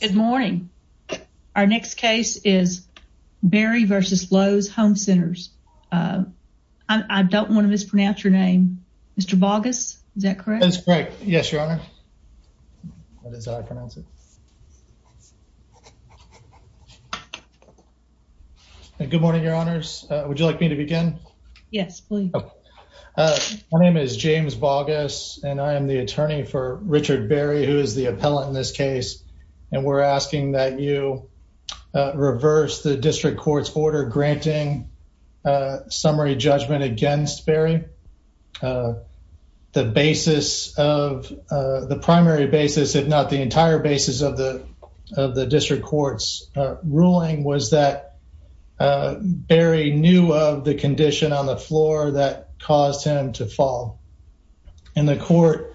Good morning. Our next case is Barry v. Lowe's Home Centers. I don't want to mispronounce your name. Mr. Boggess, is that correct? That's correct. Yes, Your Honor. That is how I pronounce it. Good morning, Your Honors. Would you like me to begin? Yes, please. My name is James Boggess, and I am the attorney for Richard Barry, who is the appellant in this case. And we're asking that you reverse the district court's order granting summary judgment against Barry. The primary basis, if not the entire basis, of the district court's ruling was that Barry knew of the condition on the floor that caused him to fall. And the court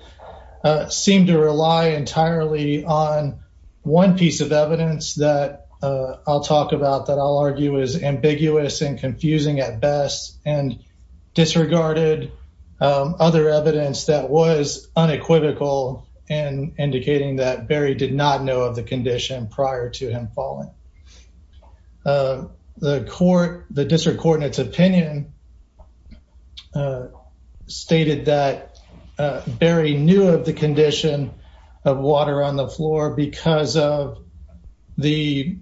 seemed to rely entirely on one piece of evidence that I'll talk about that I'll argue is ambiguous and confusing at best, and disregarded other evidence that was unequivocal in indicating that Barry did not know of the condition prior to him falling. The court, the district court in its opinion, stated that Barry knew of the condition of water on the floor because of the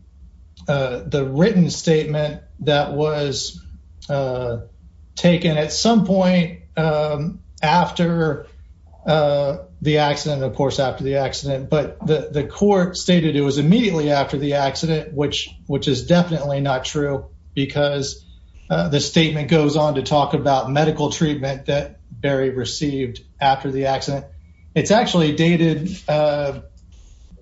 written statement that was taken at some point after the accident, of course, after the accident. But the court stated it was immediately after the accident, which is definitely not true because the statement goes on to talk about medical treatment that Barry received after the accident. It's actually dated, the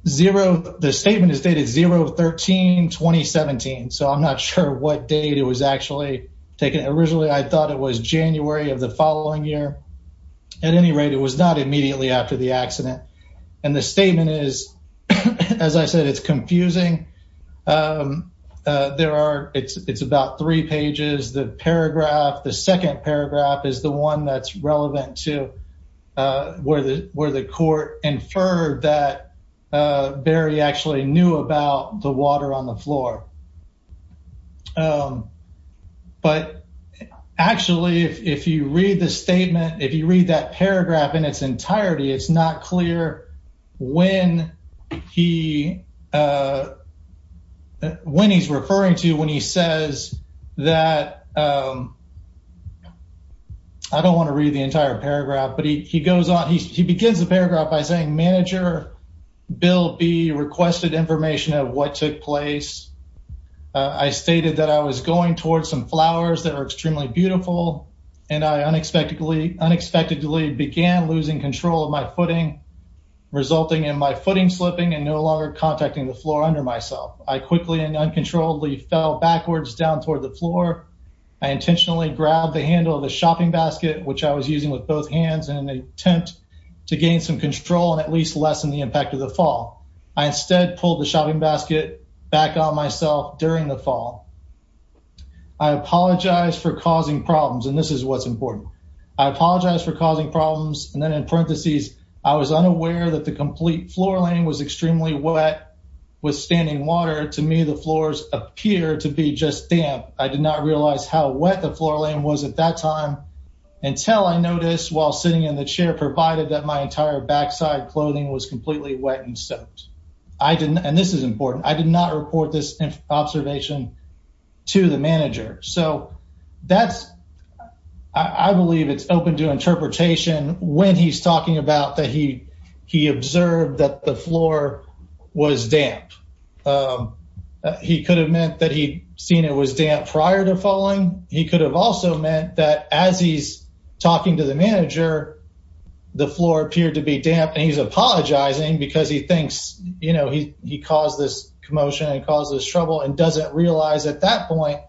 statement is dated 0-13-2017, so I'm not sure what date it was actually taken. Originally, I thought it was January of the following year. At any rate, it was not immediately after the accident. And the statement is, as I said, it's confusing. There are, it's about three pages. The paragraph, the second paragraph is the one that's relevant to where the court inferred that Barry actually knew about the water on the floor. But actually, if you read the statement, if you read that paragraph in its entirety, it's not clear when he, when he's referring to when he says that, I don't want to read the entire paragraph, but he goes on. He begins the paragraph by saying, Manager Bill B requested information of what took place. I stated that I was going towards some flowers that are extremely beautiful. And I unexpectedly, unexpectedly began losing control of my footing, resulting in my footing slipping and no longer contacting the floor under myself. I quickly and uncontrollably fell backwards down toward the floor. I intentionally grabbed the handle of the shopping basket, which I was using with both hands in an attempt to gain some control and at least lessen the impact of the fall. I instead pulled the shopping basket back on myself during the fall. I apologize for causing problems. And this is what's important. I apologize for causing problems. And then in parentheses, I was unaware that the complete floor line was extremely wet with standing water. To me, the floors appear to be just damp. I did not realize how wet the floor line was at that time until I noticed while sitting in the chair provided that my entire backside clothing was completely wet and soaked. I didn't, and this is important, I did not report this observation to the manager. So that's, I believe it's open to interpretation when he's talking about that he, he observed that the floor was damp. He could have meant that he'd seen it was damp prior to falling. He could have also meant that as he's talking to the manager, the floor appeared to be damp. And he's apologizing because he thinks, you know, he caused this commotion and caused this trouble and doesn't realize at that point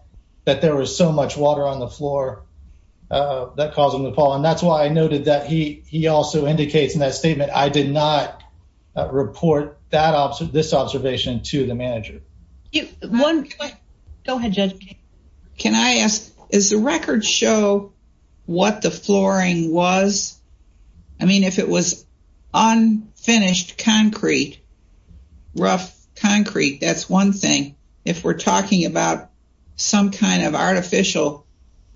that there was so much water on the floor that caused him to fall. And that's why I noted that he also indicates in that statement, I did not report this observation to the manager. Go ahead, Judge. Can I ask, does the record show what the flooring was? I mean, if it was unfinished concrete, rough concrete, that's one thing. If we're talking about some kind of artificial,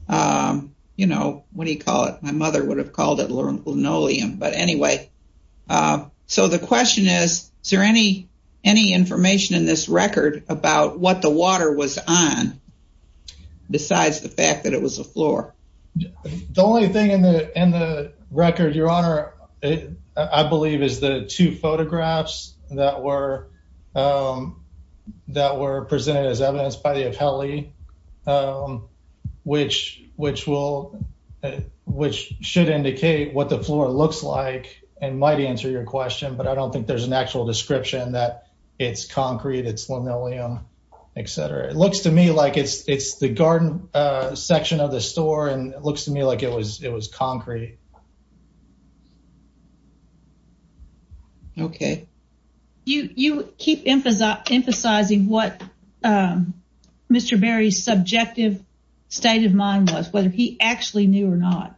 you know, what do you call it? My mother would have called it linoleum. But anyway, so the question is, is there any, any information in this record about what the water was on besides the fact that it was a floor? The only thing in the record, Your Honor, I believe, is the two photographs that were presented as evidence by the appellee, which should indicate what the floor looks like and might answer your question. But I don't think there's an actual description that it's concrete, it's linoleum, etc. It looks to me like it's the garden section of the store, and it looks to me like it was concrete. Okay. You keep emphasizing what Mr. Berry's subjective state of mind was, whether he actually knew or not.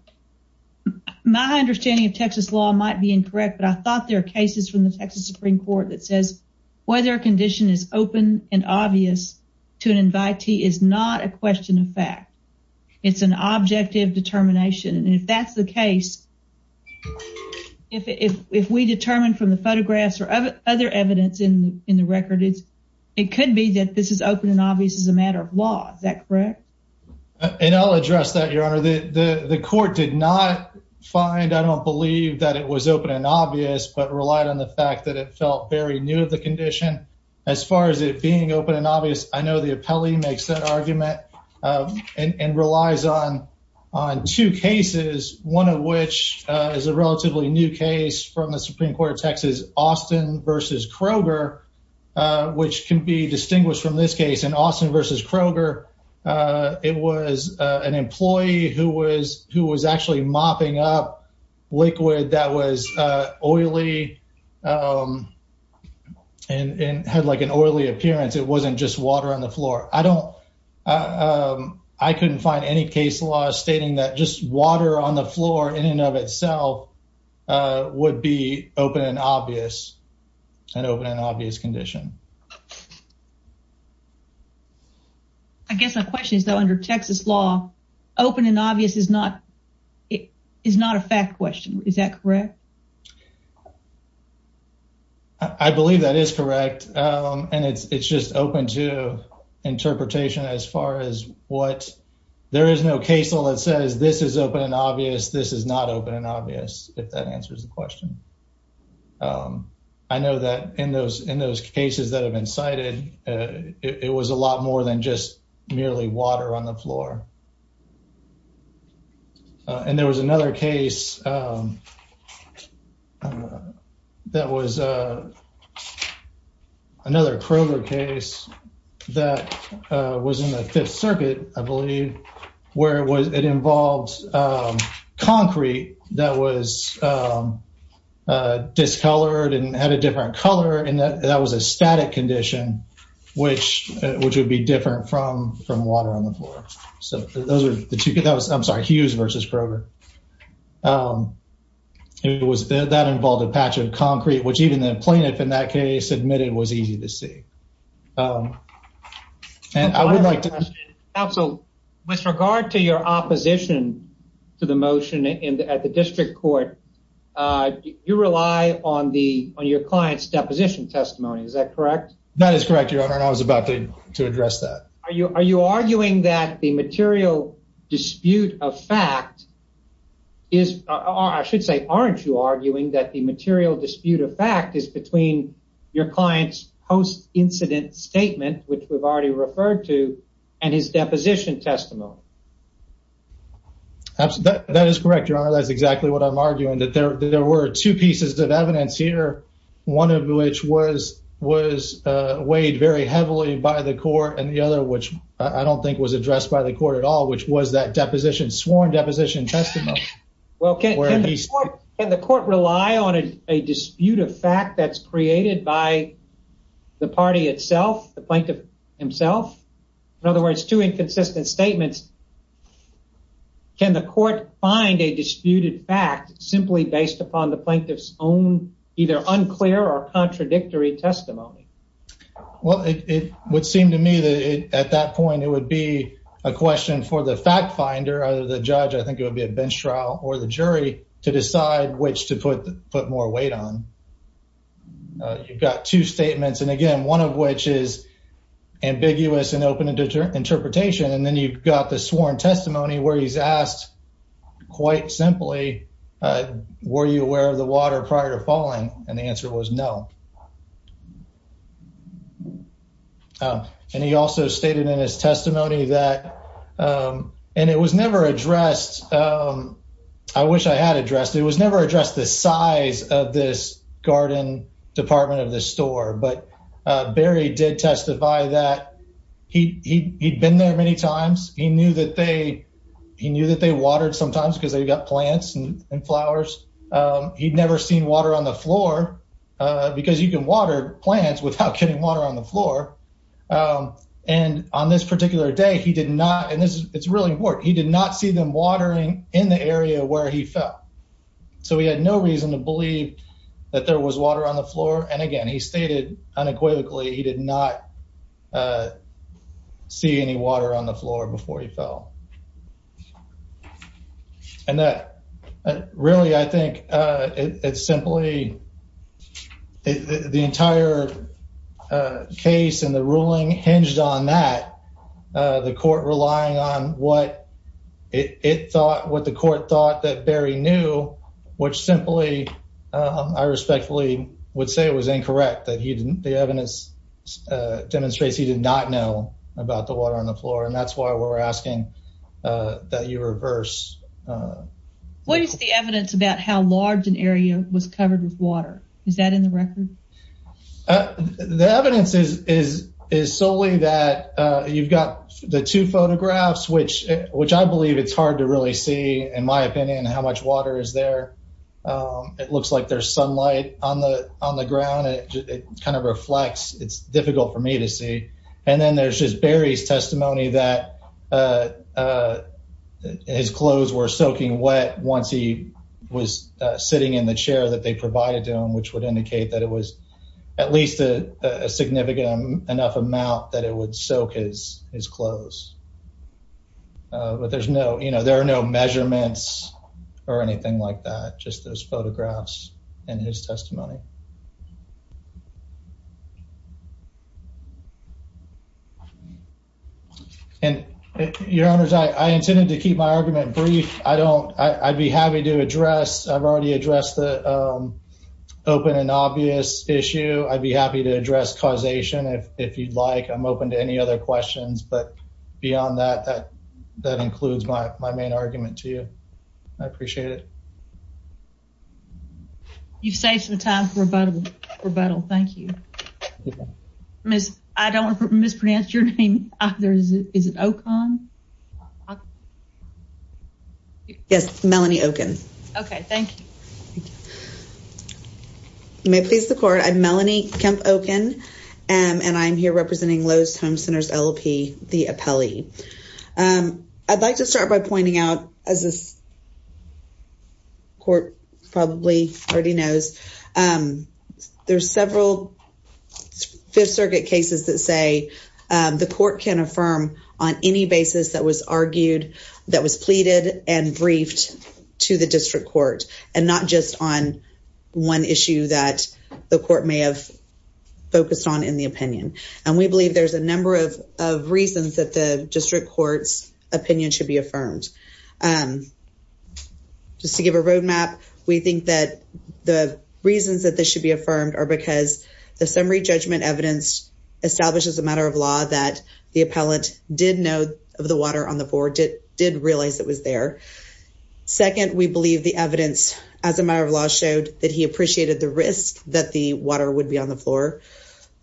My understanding of Texas law might be incorrect, but I thought there are cases from the Texas Supreme Court that says whether a condition is open and obvious to an invitee is not a question of fact. It's an objective determination. And if that's the case, if we determine from the photographs or other evidence in the record, it could be that this is open and obvious as a matter of law. Is that correct? And I'll address that, Your Honor. The court did not find, I don't believe, that it was open and obvious, but relied on the fact that it felt very new of the condition. As far as it being open and obvious, I know the appellee makes that argument and relies on two cases, one of which is a relatively new case from the Supreme Court of Texas, Austin v. Kroger, which can be distinguished from this case. In Austin v. Kroger, it was an employee who was actually mopping up liquid that was oily and had like an oily appearance. It wasn't just water on the floor. I couldn't find any case law stating that just water on the floor in and of itself would be open and obvious, an open and obvious condition. I guess my question is, though, under Texas law, open and obvious is not a fact question. Is that correct? I believe that is correct, and it's just open to interpretation as far as what... There is no case law that says this is open and obvious, this is not open and obvious, if that answers the question. I know that in those cases that have been cited, it was a lot more than just merely water on the floor. And there was another case that was another Kroger case that was in the Fifth Circuit, I believe, where it involved concrete that was discolored and had a different color, and that was a static condition, which would be different from water on the floor. I'm sorry, Hughes versus Kroger. That involved a patch of concrete, which even the plaintiff in that case admitted was easy to see. With regard to your opposition to the motion at the district court, you rely on your client's deposition testimony, is that correct? That is correct, Your Honor, and I was about to address that. Are you arguing that the material dispute of fact is... I should say, aren't you arguing that the material dispute of fact is between your client's post-incident statement, which we've already referred to, and his deposition testimony? That is correct, Your Honor, that's exactly what I'm arguing, that there were two pieces of evidence here, one of which was weighed very heavily by the court, and the other, which I don't think was addressed by the court at all, which was that sworn deposition testimony. Well, can the court rely on a dispute of fact that's created by the party itself, the plaintiff himself? In other words, two inconsistent statements, can the court find a disputed fact simply based upon the plaintiff's own either unclear or contradictory testimony? Well, it would seem to me that at that point it would be a question for the fact finder, either the judge, I think it would be a bench trial, or the jury to decide which to put more weight on. You've got two statements, and again, one of which is ambiguous and open to interpretation, and then you've got the sworn testimony where he's asked, quite simply, were you aware of the water prior to falling? And the answer was no. And he also stated in his testimony that, and it was never addressed, I wish I had addressed, it was never addressed the size of this garden department of the store, but Barry did testify that he'd been there many times. He knew that they watered sometimes because they've got plants and flowers. He'd never seen water on the floor because you can water plants without getting water on the floor. And on this particular day, he did not, and it's really important, he did not see them watering in the area where he fell. So he had no reason to believe that there was water on the floor. And again, he stated unequivocally he did not see any water on the floor before he fell. And that, really, I think it's simply, the entire case and the ruling hinged on that, the court relying on what it thought, what the court thought that Barry knew, which simply, I respectfully would say it was incorrect that he didn't, the evidence demonstrates he did not know about the water on the floor. And that's why we're asking that you reverse. What is the evidence about how large an area was covered with water? Is that in the record? The evidence is solely that you've got the two photographs, which I believe it's hard to really see, in my opinion, how much water is there. It looks like there's sunlight on the ground, it kind of reflects, it's difficult for me to see. And then there's Barry's testimony that his clothes were soaking wet once he was sitting in the chair that they provided to him, which would indicate that it was at least a significant enough amount that it would soak his clothes. But there's no, you know, there are no measurements or anything like that, just those photographs and his testimony. And your honors, I intended to keep my argument brief. I don't, I'd be happy to address, I've already addressed the open and obvious issue. I'd be happy to address causation if you'd like. I'm open to any other questions. But beyond that, that includes my main argument to you. I appreciate it. You've saved some time for rebuttal. Thank you. Miss, I don't want to mispronounce your name. Is it Okon? Yes, Melanie Okon. Okay, thank you. You may please the court. I'm Melanie Kemp Okon, and I'm here representing Lowe's Home Centers LLP, the appellee. I'd like to start by pointing out, as this court probably already knows, there's several Fifth Circuit cases that say the court can affirm on any basis that was argued, that was pleaded and briefed to the district court, and not just on one issue that the court may have focused on in the opinion. And we believe there's a number of reasons that the district court's opinion should be affirmed. Just to give a roadmap, we think that the reasons that this should be affirmed are because the summary judgment evidence establishes a matter of law that the appellant did know of the water on the floor, did realize it was there. Second, we believe the evidence as a matter of law showed that he appreciated the risk that the water would be on the floor.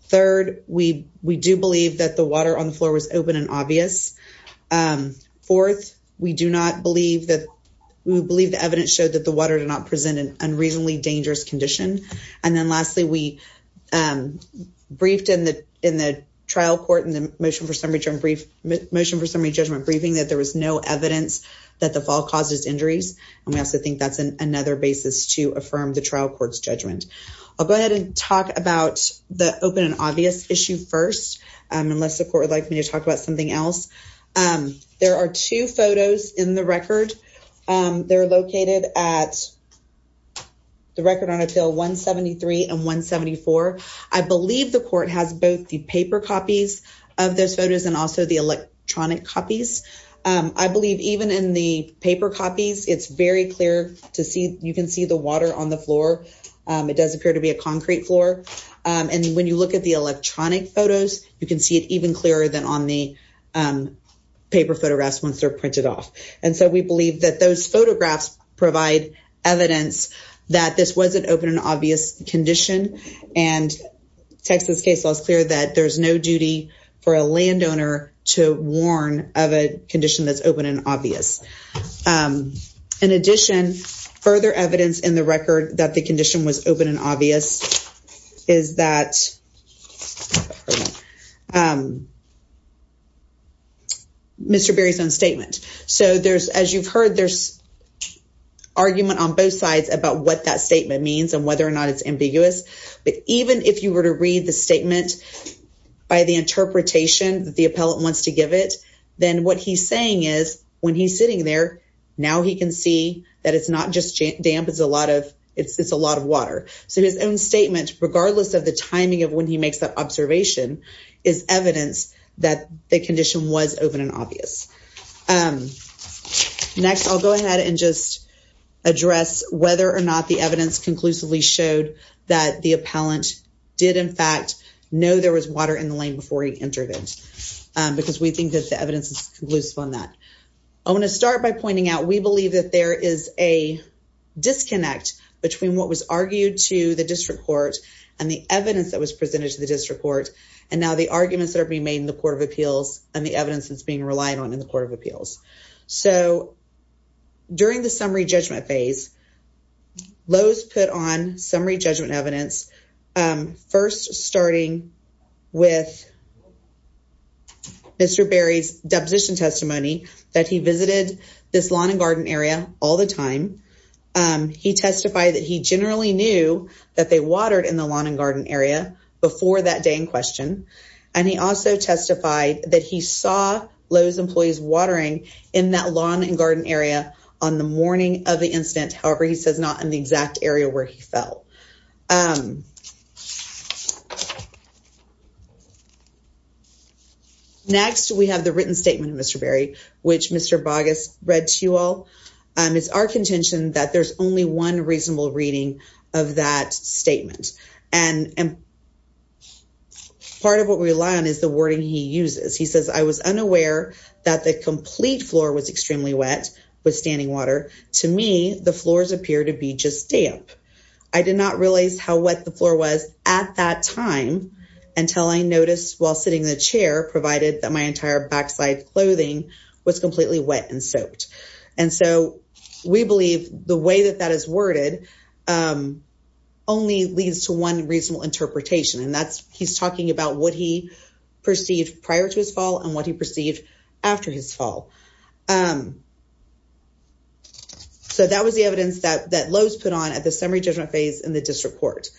Third, we do believe that the water on the floor was open and obvious. Fourth, we believe the evidence showed that the water did not present an unreasonably dangerous condition. And then lastly, we briefed in the trial court in the motion for summary judgment briefing that there was no evidence that the fall causes injuries. And we also think that's another basis to affirm the trial court's judgment. I'll go ahead and talk about the open and obvious issue first, unless the court would like me to talk about something else. There are two photos in the record. They're located at the record on a bill 173 and 174. I believe the court has both the paper copies of those photos and also the electronic copies. I believe even in the paper copies, it's very clear to see you can see the water on the floor. It does appear to be a concrete floor. And when you look at the electronic photos, you can see it even clearer than on the paper photographs once they're printed off. And so we believe that those photographs provide evidence that this was an open and obvious condition. And Texas case law is clear that there's no duty for a landowner to warn of a condition that's open and obvious. In addition, further evidence in the record that the condition was open and obvious is that Mr. Berry's own statement. So there's, as you've heard, there's argument on both sides about what that statement means and whether or not it's ambiguous. But even if you were to read the statement by the interpretation that the appellate wants to give it, then what he's saying is when he's sitting there, now he can see that it's not just damp, it's a lot of water. So his own statement, regardless of the timing of when he makes that observation, is evidence that the condition was open and obvious. Next, I'll go ahead and just address whether or not the evidence conclusively showed that the appellant did in fact know there was water in the lane before he entered it. Because we think that the evidence is conclusive on that. I want to start by pointing out, we believe that there is a disconnect between what was argued to the district court and the evidence that was presented to the district court. And now the arguments that are being made in the Court of Appeals and the evidence that's being relied on in the Court of Appeals. So, during the summary judgment phase, Lowe's put on summary judgment evidence, first starting with Mr. Berry's deposition testimony that he visited this lawn and garden area all the time. He testified that he generally knew that they watered in the lawn and garden area before that day in question. And he also testified that he saw Lowe's employees watering in that lawn and garden area on the morning of the incident. However, he says not in the exact area where he fell. Next, we have the written statement of Mr. Berry, which Mr. Boggess read to you all. It's our contention that there's only one reasonable reading of that statement. And part of what we rely on is the wording he uses. He says, I was unaware that the complete floor was extremely wet with standing water. To me, the floors appear to be just damp. I did not realize how wet the floor was at that time until I noticed while sitting in the chair, provided that my entire backside clothing was completely wet and soaked. And so, we believe the way that that is worded only leads to one reasonable interpretation. And that's, he's talking about what he perceived prior to his fall and what he perceived after his fall. So, that was the evidence that Lowe's put on at the summary judgment phase in the district court.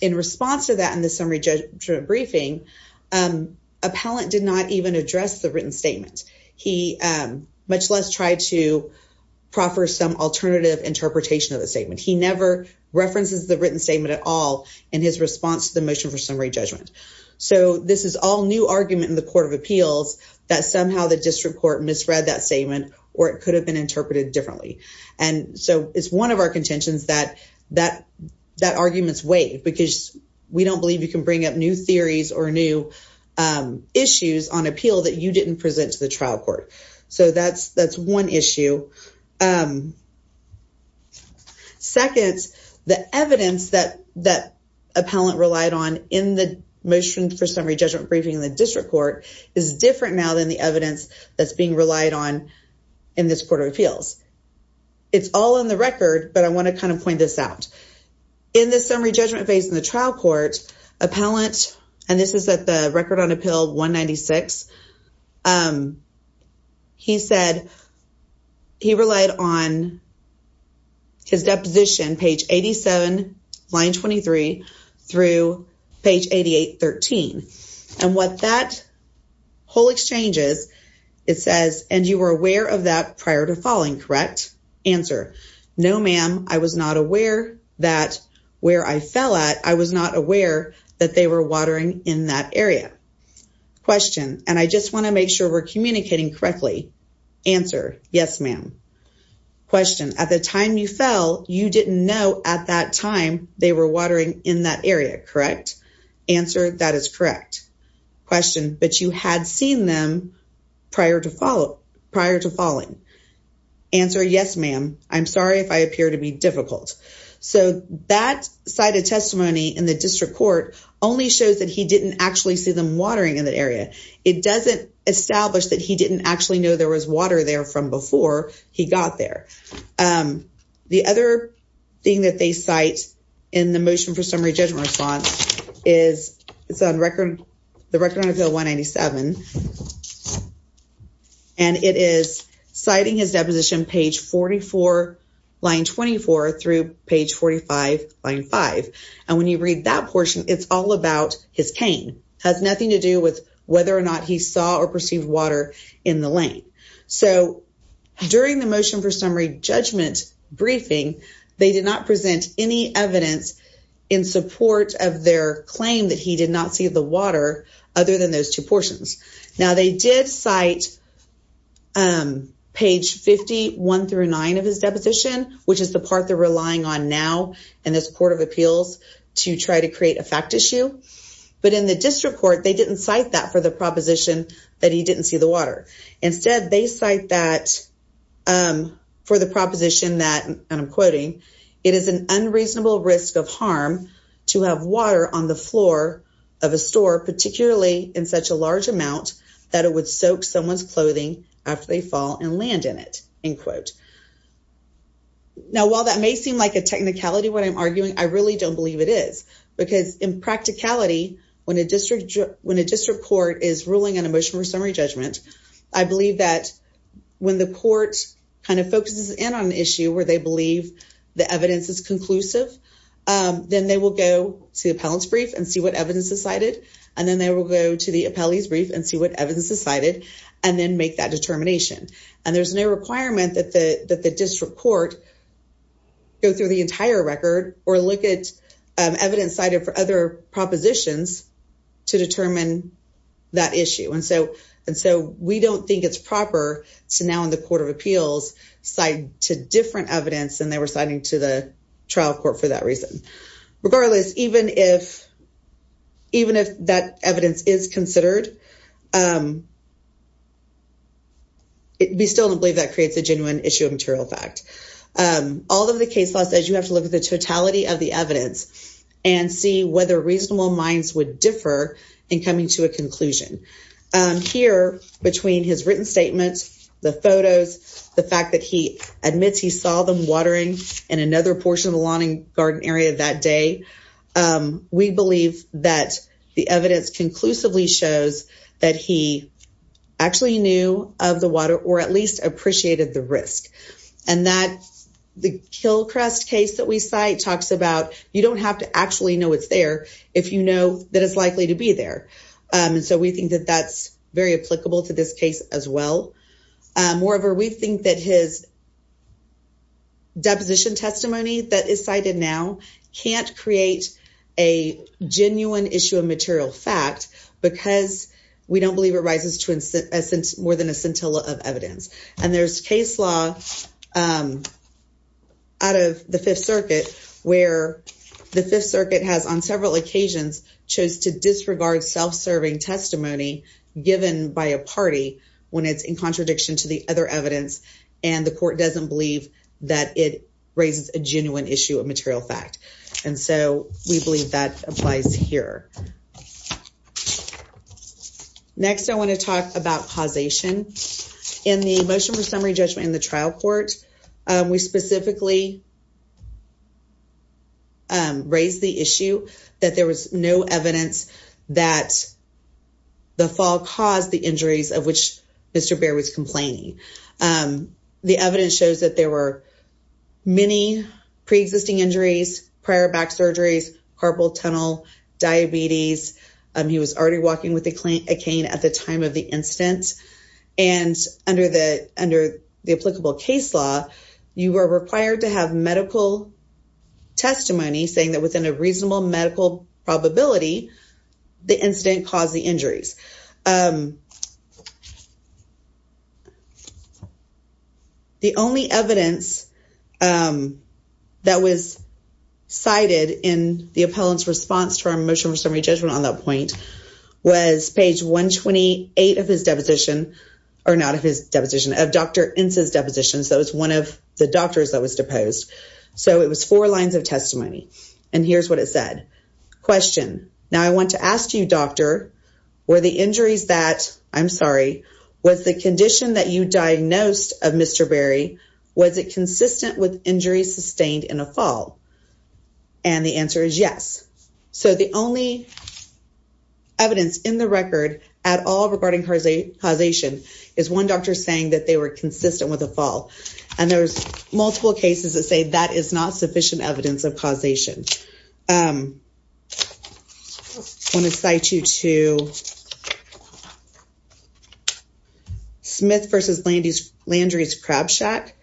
In response to that in the summary judgment briefing, appellant did not even address the written statement. He much less tried to proffer some alternative interpretation of the statement. He never references the written statement at all in his response to the motion for summary judgment. So, this is all new argument in the court of appeals that somehow the district court misread that statement or it could have been interpreted differently. And so, it's one of our contentions that that argument's weighed because we don't believe you can bring up new theories or new issues on appeal that you didn't present to the trial court. So, that's one issue. So, second, the evidence that appellant relied on in the motion for summary judgment briefing in the district court is different now than the evidence that's being relied on in this court of appeals. It's all in the record, but I want to kind of point this out. In the summary judgment phase in the trial court, appellant, and this is at the record on appeal 196, he said he relied on his deposition, page 87, line 23 through page 8813. And what that whole exchange is, it says, and you were aware of that prior to falling, correct? Answer, no, ma'am, I was not aware that where I fell at, I was not aware that they were watering in that area. Question, and I just want to make sure we're communicating correctly. Answer, yes, ma'am. Question, at the time you fell, you didn't know at that time they were watering in that area, correct? Answer, that is correct. Question, but you had seen them prior to falling. Answer, yes, ma'am. I'm sorry if I appear to be difficult. So that side of testimony in the district court only shows that he didn't actually see them watering in that area. It doesn't establish that he didn't actually know there was water there from before he got there. The other thing that they cite in the motion for summary judgment response is the record on appeal 197. And it is citing his deposition, page 44, line 24 through page 45, line 5. And when you read that portion, it's all about his cane. It has nothing to do with whether or not he saw or perceived water in the lane. So during the motion for summary judgment briefing, they did not present any evidence in support of their claim that he did not see the water other than those two portions. Now, they did cite page 51 through 9 of his deposition, which is the part they're relying on now in this court of appeals to try to create a fact issue. But in the district court, they didn't cite that for the proposition that he didn't see the water. Instead, they cite that for the proposition that, and I'm quoting, it is an unreasonable risk of harm to have water on the floor of a store, particularly in such a large amount, that it would soak someone's clothing after they fall and land in it, end quote. Now, while that may seem like a technicality, what I'm arguing, I really don't believe it is. Because in practicality, when a district court is ruling on a motion for summary judgment, I believe that when the court kind of focuses in on an issue where they believe the evidence is conclusive, then they will go to the appellant's brief and see what evidence is cited, and then they will go to the appellee's brief and see what evidence is cited, and then make that determination. And there's no requirement that the district court go through the entire record or look at evidence cited for other propositions to determine that issue. And so we don't think it's proper to now in the court of appeals cite to different evidence than they were citing to the trial court for that reason. Regardless, even if that evidence is considered, we still don't believe that creates a genuine issue of material fact. All of the case law says you have to look at the totality of the evidence and see whether reasonable minds would differ in coming to a conclusion. Here, between his written statements, the photos, the fact that he admits he saw them watering in another portion of the lawn and garden area that day, we believe that the evidence conclusively shows that he actually knew of the water or at least appreciated the risk. And the Kilcrest case that we cite talks about you don't have to actually know it's there if you know that it's likely to be there. And so we think that that's very applicable to this case as well. Moreover, we think that his deposition testimony that is cited now can't create a genuine issue of material fact because we don't believe it rises to more than a scintilla of evidence. And there's case law out of the Fifth Circuit where the Fifth Circuit has, on several occasions, chose to disregard self-serving testimony given by a party when it's in contradiction to the other evidence, and the court doesn't believe that it raises a genuine issue of material fact. And so we believe that applies here. Next, I want to talk about causation. In the motion for summary judgment in the trial court, we specifically raised the issue that there was no evidence that the fall caused the injuries of which Mr. Baird was complaining. The evidence shows that there were many pre-existing injuries, prior back surgeries, carpal tunnel, diabetes. He was already walking with a cane at the time of the incident. And under the applicable case law, you are required to have medical testimony saying that within a reasonable medical probability, the incident caused the injuries. The only evidence that was cited in the appellant's response to our motion for summary judgment on that point was page 128 of his deposition, or not of his deposition, of Dr. Ince's deposition. That was one of the doctors that was deposed. So it was four lines of testimony. And here's what it said. Question, now I want to ask you, doctor, were the injuries that, I'm sorry, was the condition that you diagnosed of Mr. Baird, was it consistent with injuries sustained in a fall? And the answer is yes. So the only evidence in the record at all regarding causation is one doctor saying that they were consistent with a fall. And there's multiple cases that say that is not sufficient evidence of causation. I want to cite you to Smith versus Landry's Crab Shack,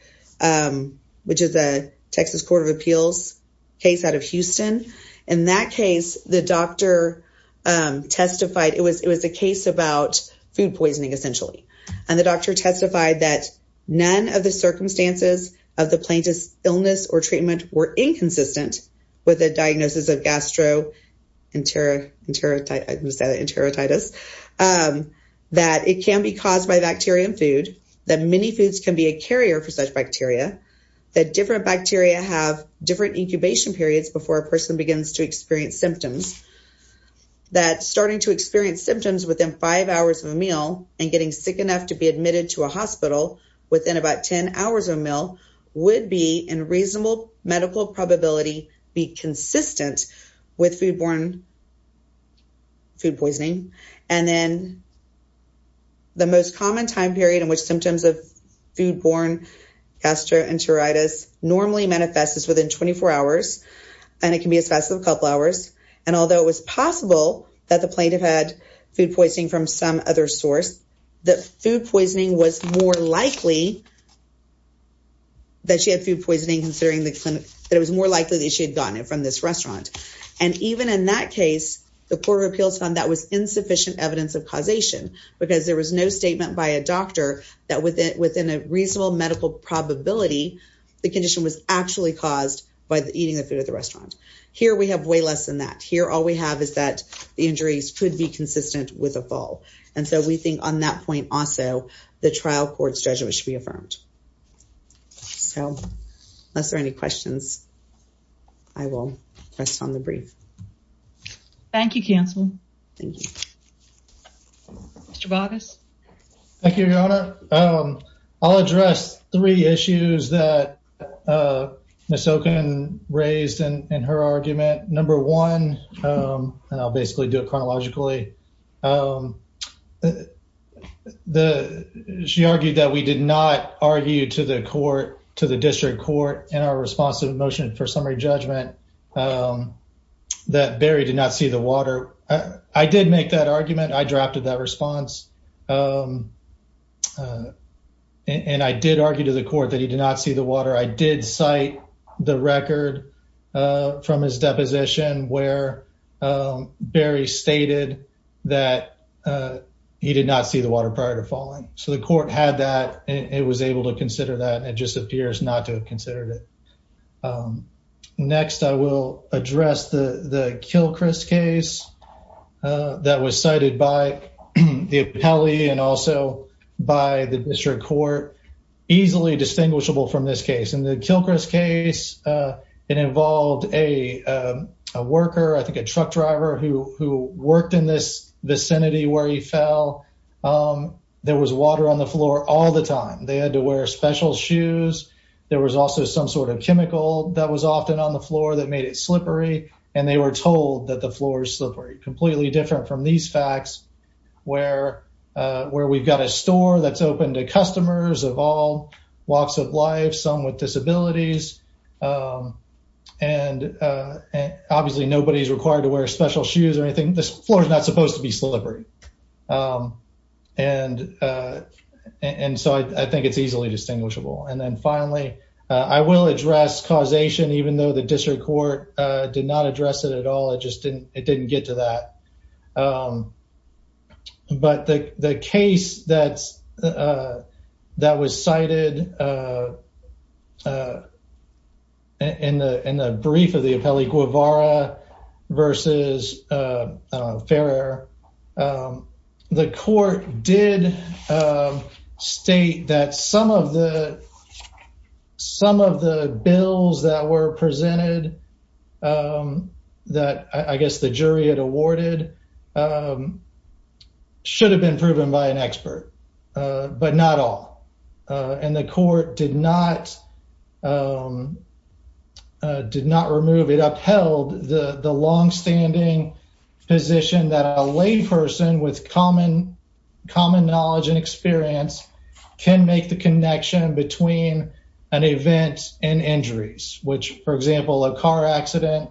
which is a Texas Court of Appeals case out of Houston. In that case, the doctor testified, it was a case about food poisoning, essentially. And the doctor testified that none of the circumstances of the plaintiff's illness or treatment were inconsistent with a diagnosis of gastroenteritis. That it can be caused by bacteria in food. That many foods can be a carrier for such bacteria. That different bacteria have different incubation periods before a person begins to experience symptoms. That starting to experience symptoms within five hours of a meal and getting sick enough to be admitted to a hospital within about 10 hours of a meal would be in reasonable medical probability be consistent with foodborne food poisoning. And then the most common time period in which symptoms of foodborne gastroenteritis normally manifests is within 24 hours. And it can be as fast as a couple hours. And although it was possible that the plaintiff had food poisoning from some other source, that food poisoning was more likely that she had food poisoning considering that it was more likely that she had gotten it from this restaurant. And even in that case, the Court of Appeals found that was insufficient evidence of causation. Because there was no statement by a doctor that within a reasonable medical probability, the condition was actually caused by eating the food at the restaurant. Here we have way less than that. Here all we have is that the injuries could be consistent with a fall. And so we think on that point also, the trial court's judgment should be affirmed. So, unless there are any questions, I will rest on the brief. Thank you, counsel. Thank you. Mr. Boggess. Thank you, Your Honor. I'll address three issues that Ms. Oken raised in her argument. Number one, and I'll basically do it chronologically. She argued that we did not argue to the court, to the district court, in our response to the motion for summary judgment, that Barry did not see the water. I did make that argument. I drafted that response. And I did argue to the court that he did not see the water. I did cite the record from his deposition where Barry stated that he did not see the water prior to falling. So the court had that and it was able to consider that. It just appears not to have considered it. Next, I will address the Kilchrist case that was cited by the appellee and also by the district court. Easily distinguishable from this case. In the Kilchrist case, it involved a worker, I think a truck driver, who worked in this vicinity where he fell. There was water on the floor all the time. They had to wear special shoes. There was also some sort of chemical that was often on the floor that made it slippery. And they were told that the floor is slippery. Completely different from these facts where we've got a store that's open to customers of all walks of life, some with disabilities. And obviously nobody is required to wear special shoes or anything. This floor is not supposed to be slippery. And so I think it's easily distinguishable. And then finally, I will address causation, even though the district court did not address it at all. It just didn't get to that. But the case that was cited in the brief of the appellee, Guevara versus Ferrer. The court did state that some of the bills that were presented, that I guess the jury had awarded, should have been proven by an expert. But not all. And the court did not remove, it upheld the longstanding position that a layperson with common knowledge and experience can make the connection between an event and injuries. Which, for example, a car accident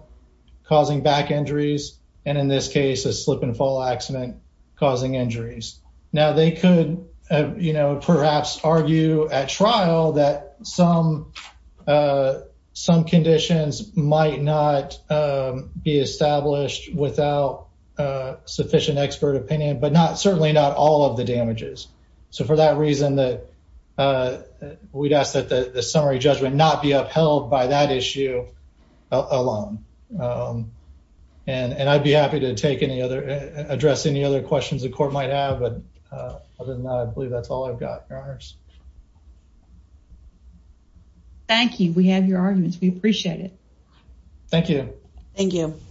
causing back injuries. And in this case, a slip and fall accident causing injuries. Now they could perhaps argue at trial that some conditions might not be established without sufficient expert opinion, but certainly not all of the damages. So for that reason, we'd ask that the summary judgment not be upheld by that issue alone. And I'd be happy to address any other questions the court might have, but other than that, I believe that's all I've got, Your Honors. Thank you. We have your arguments. We appreciate it. Thank you. Thank you.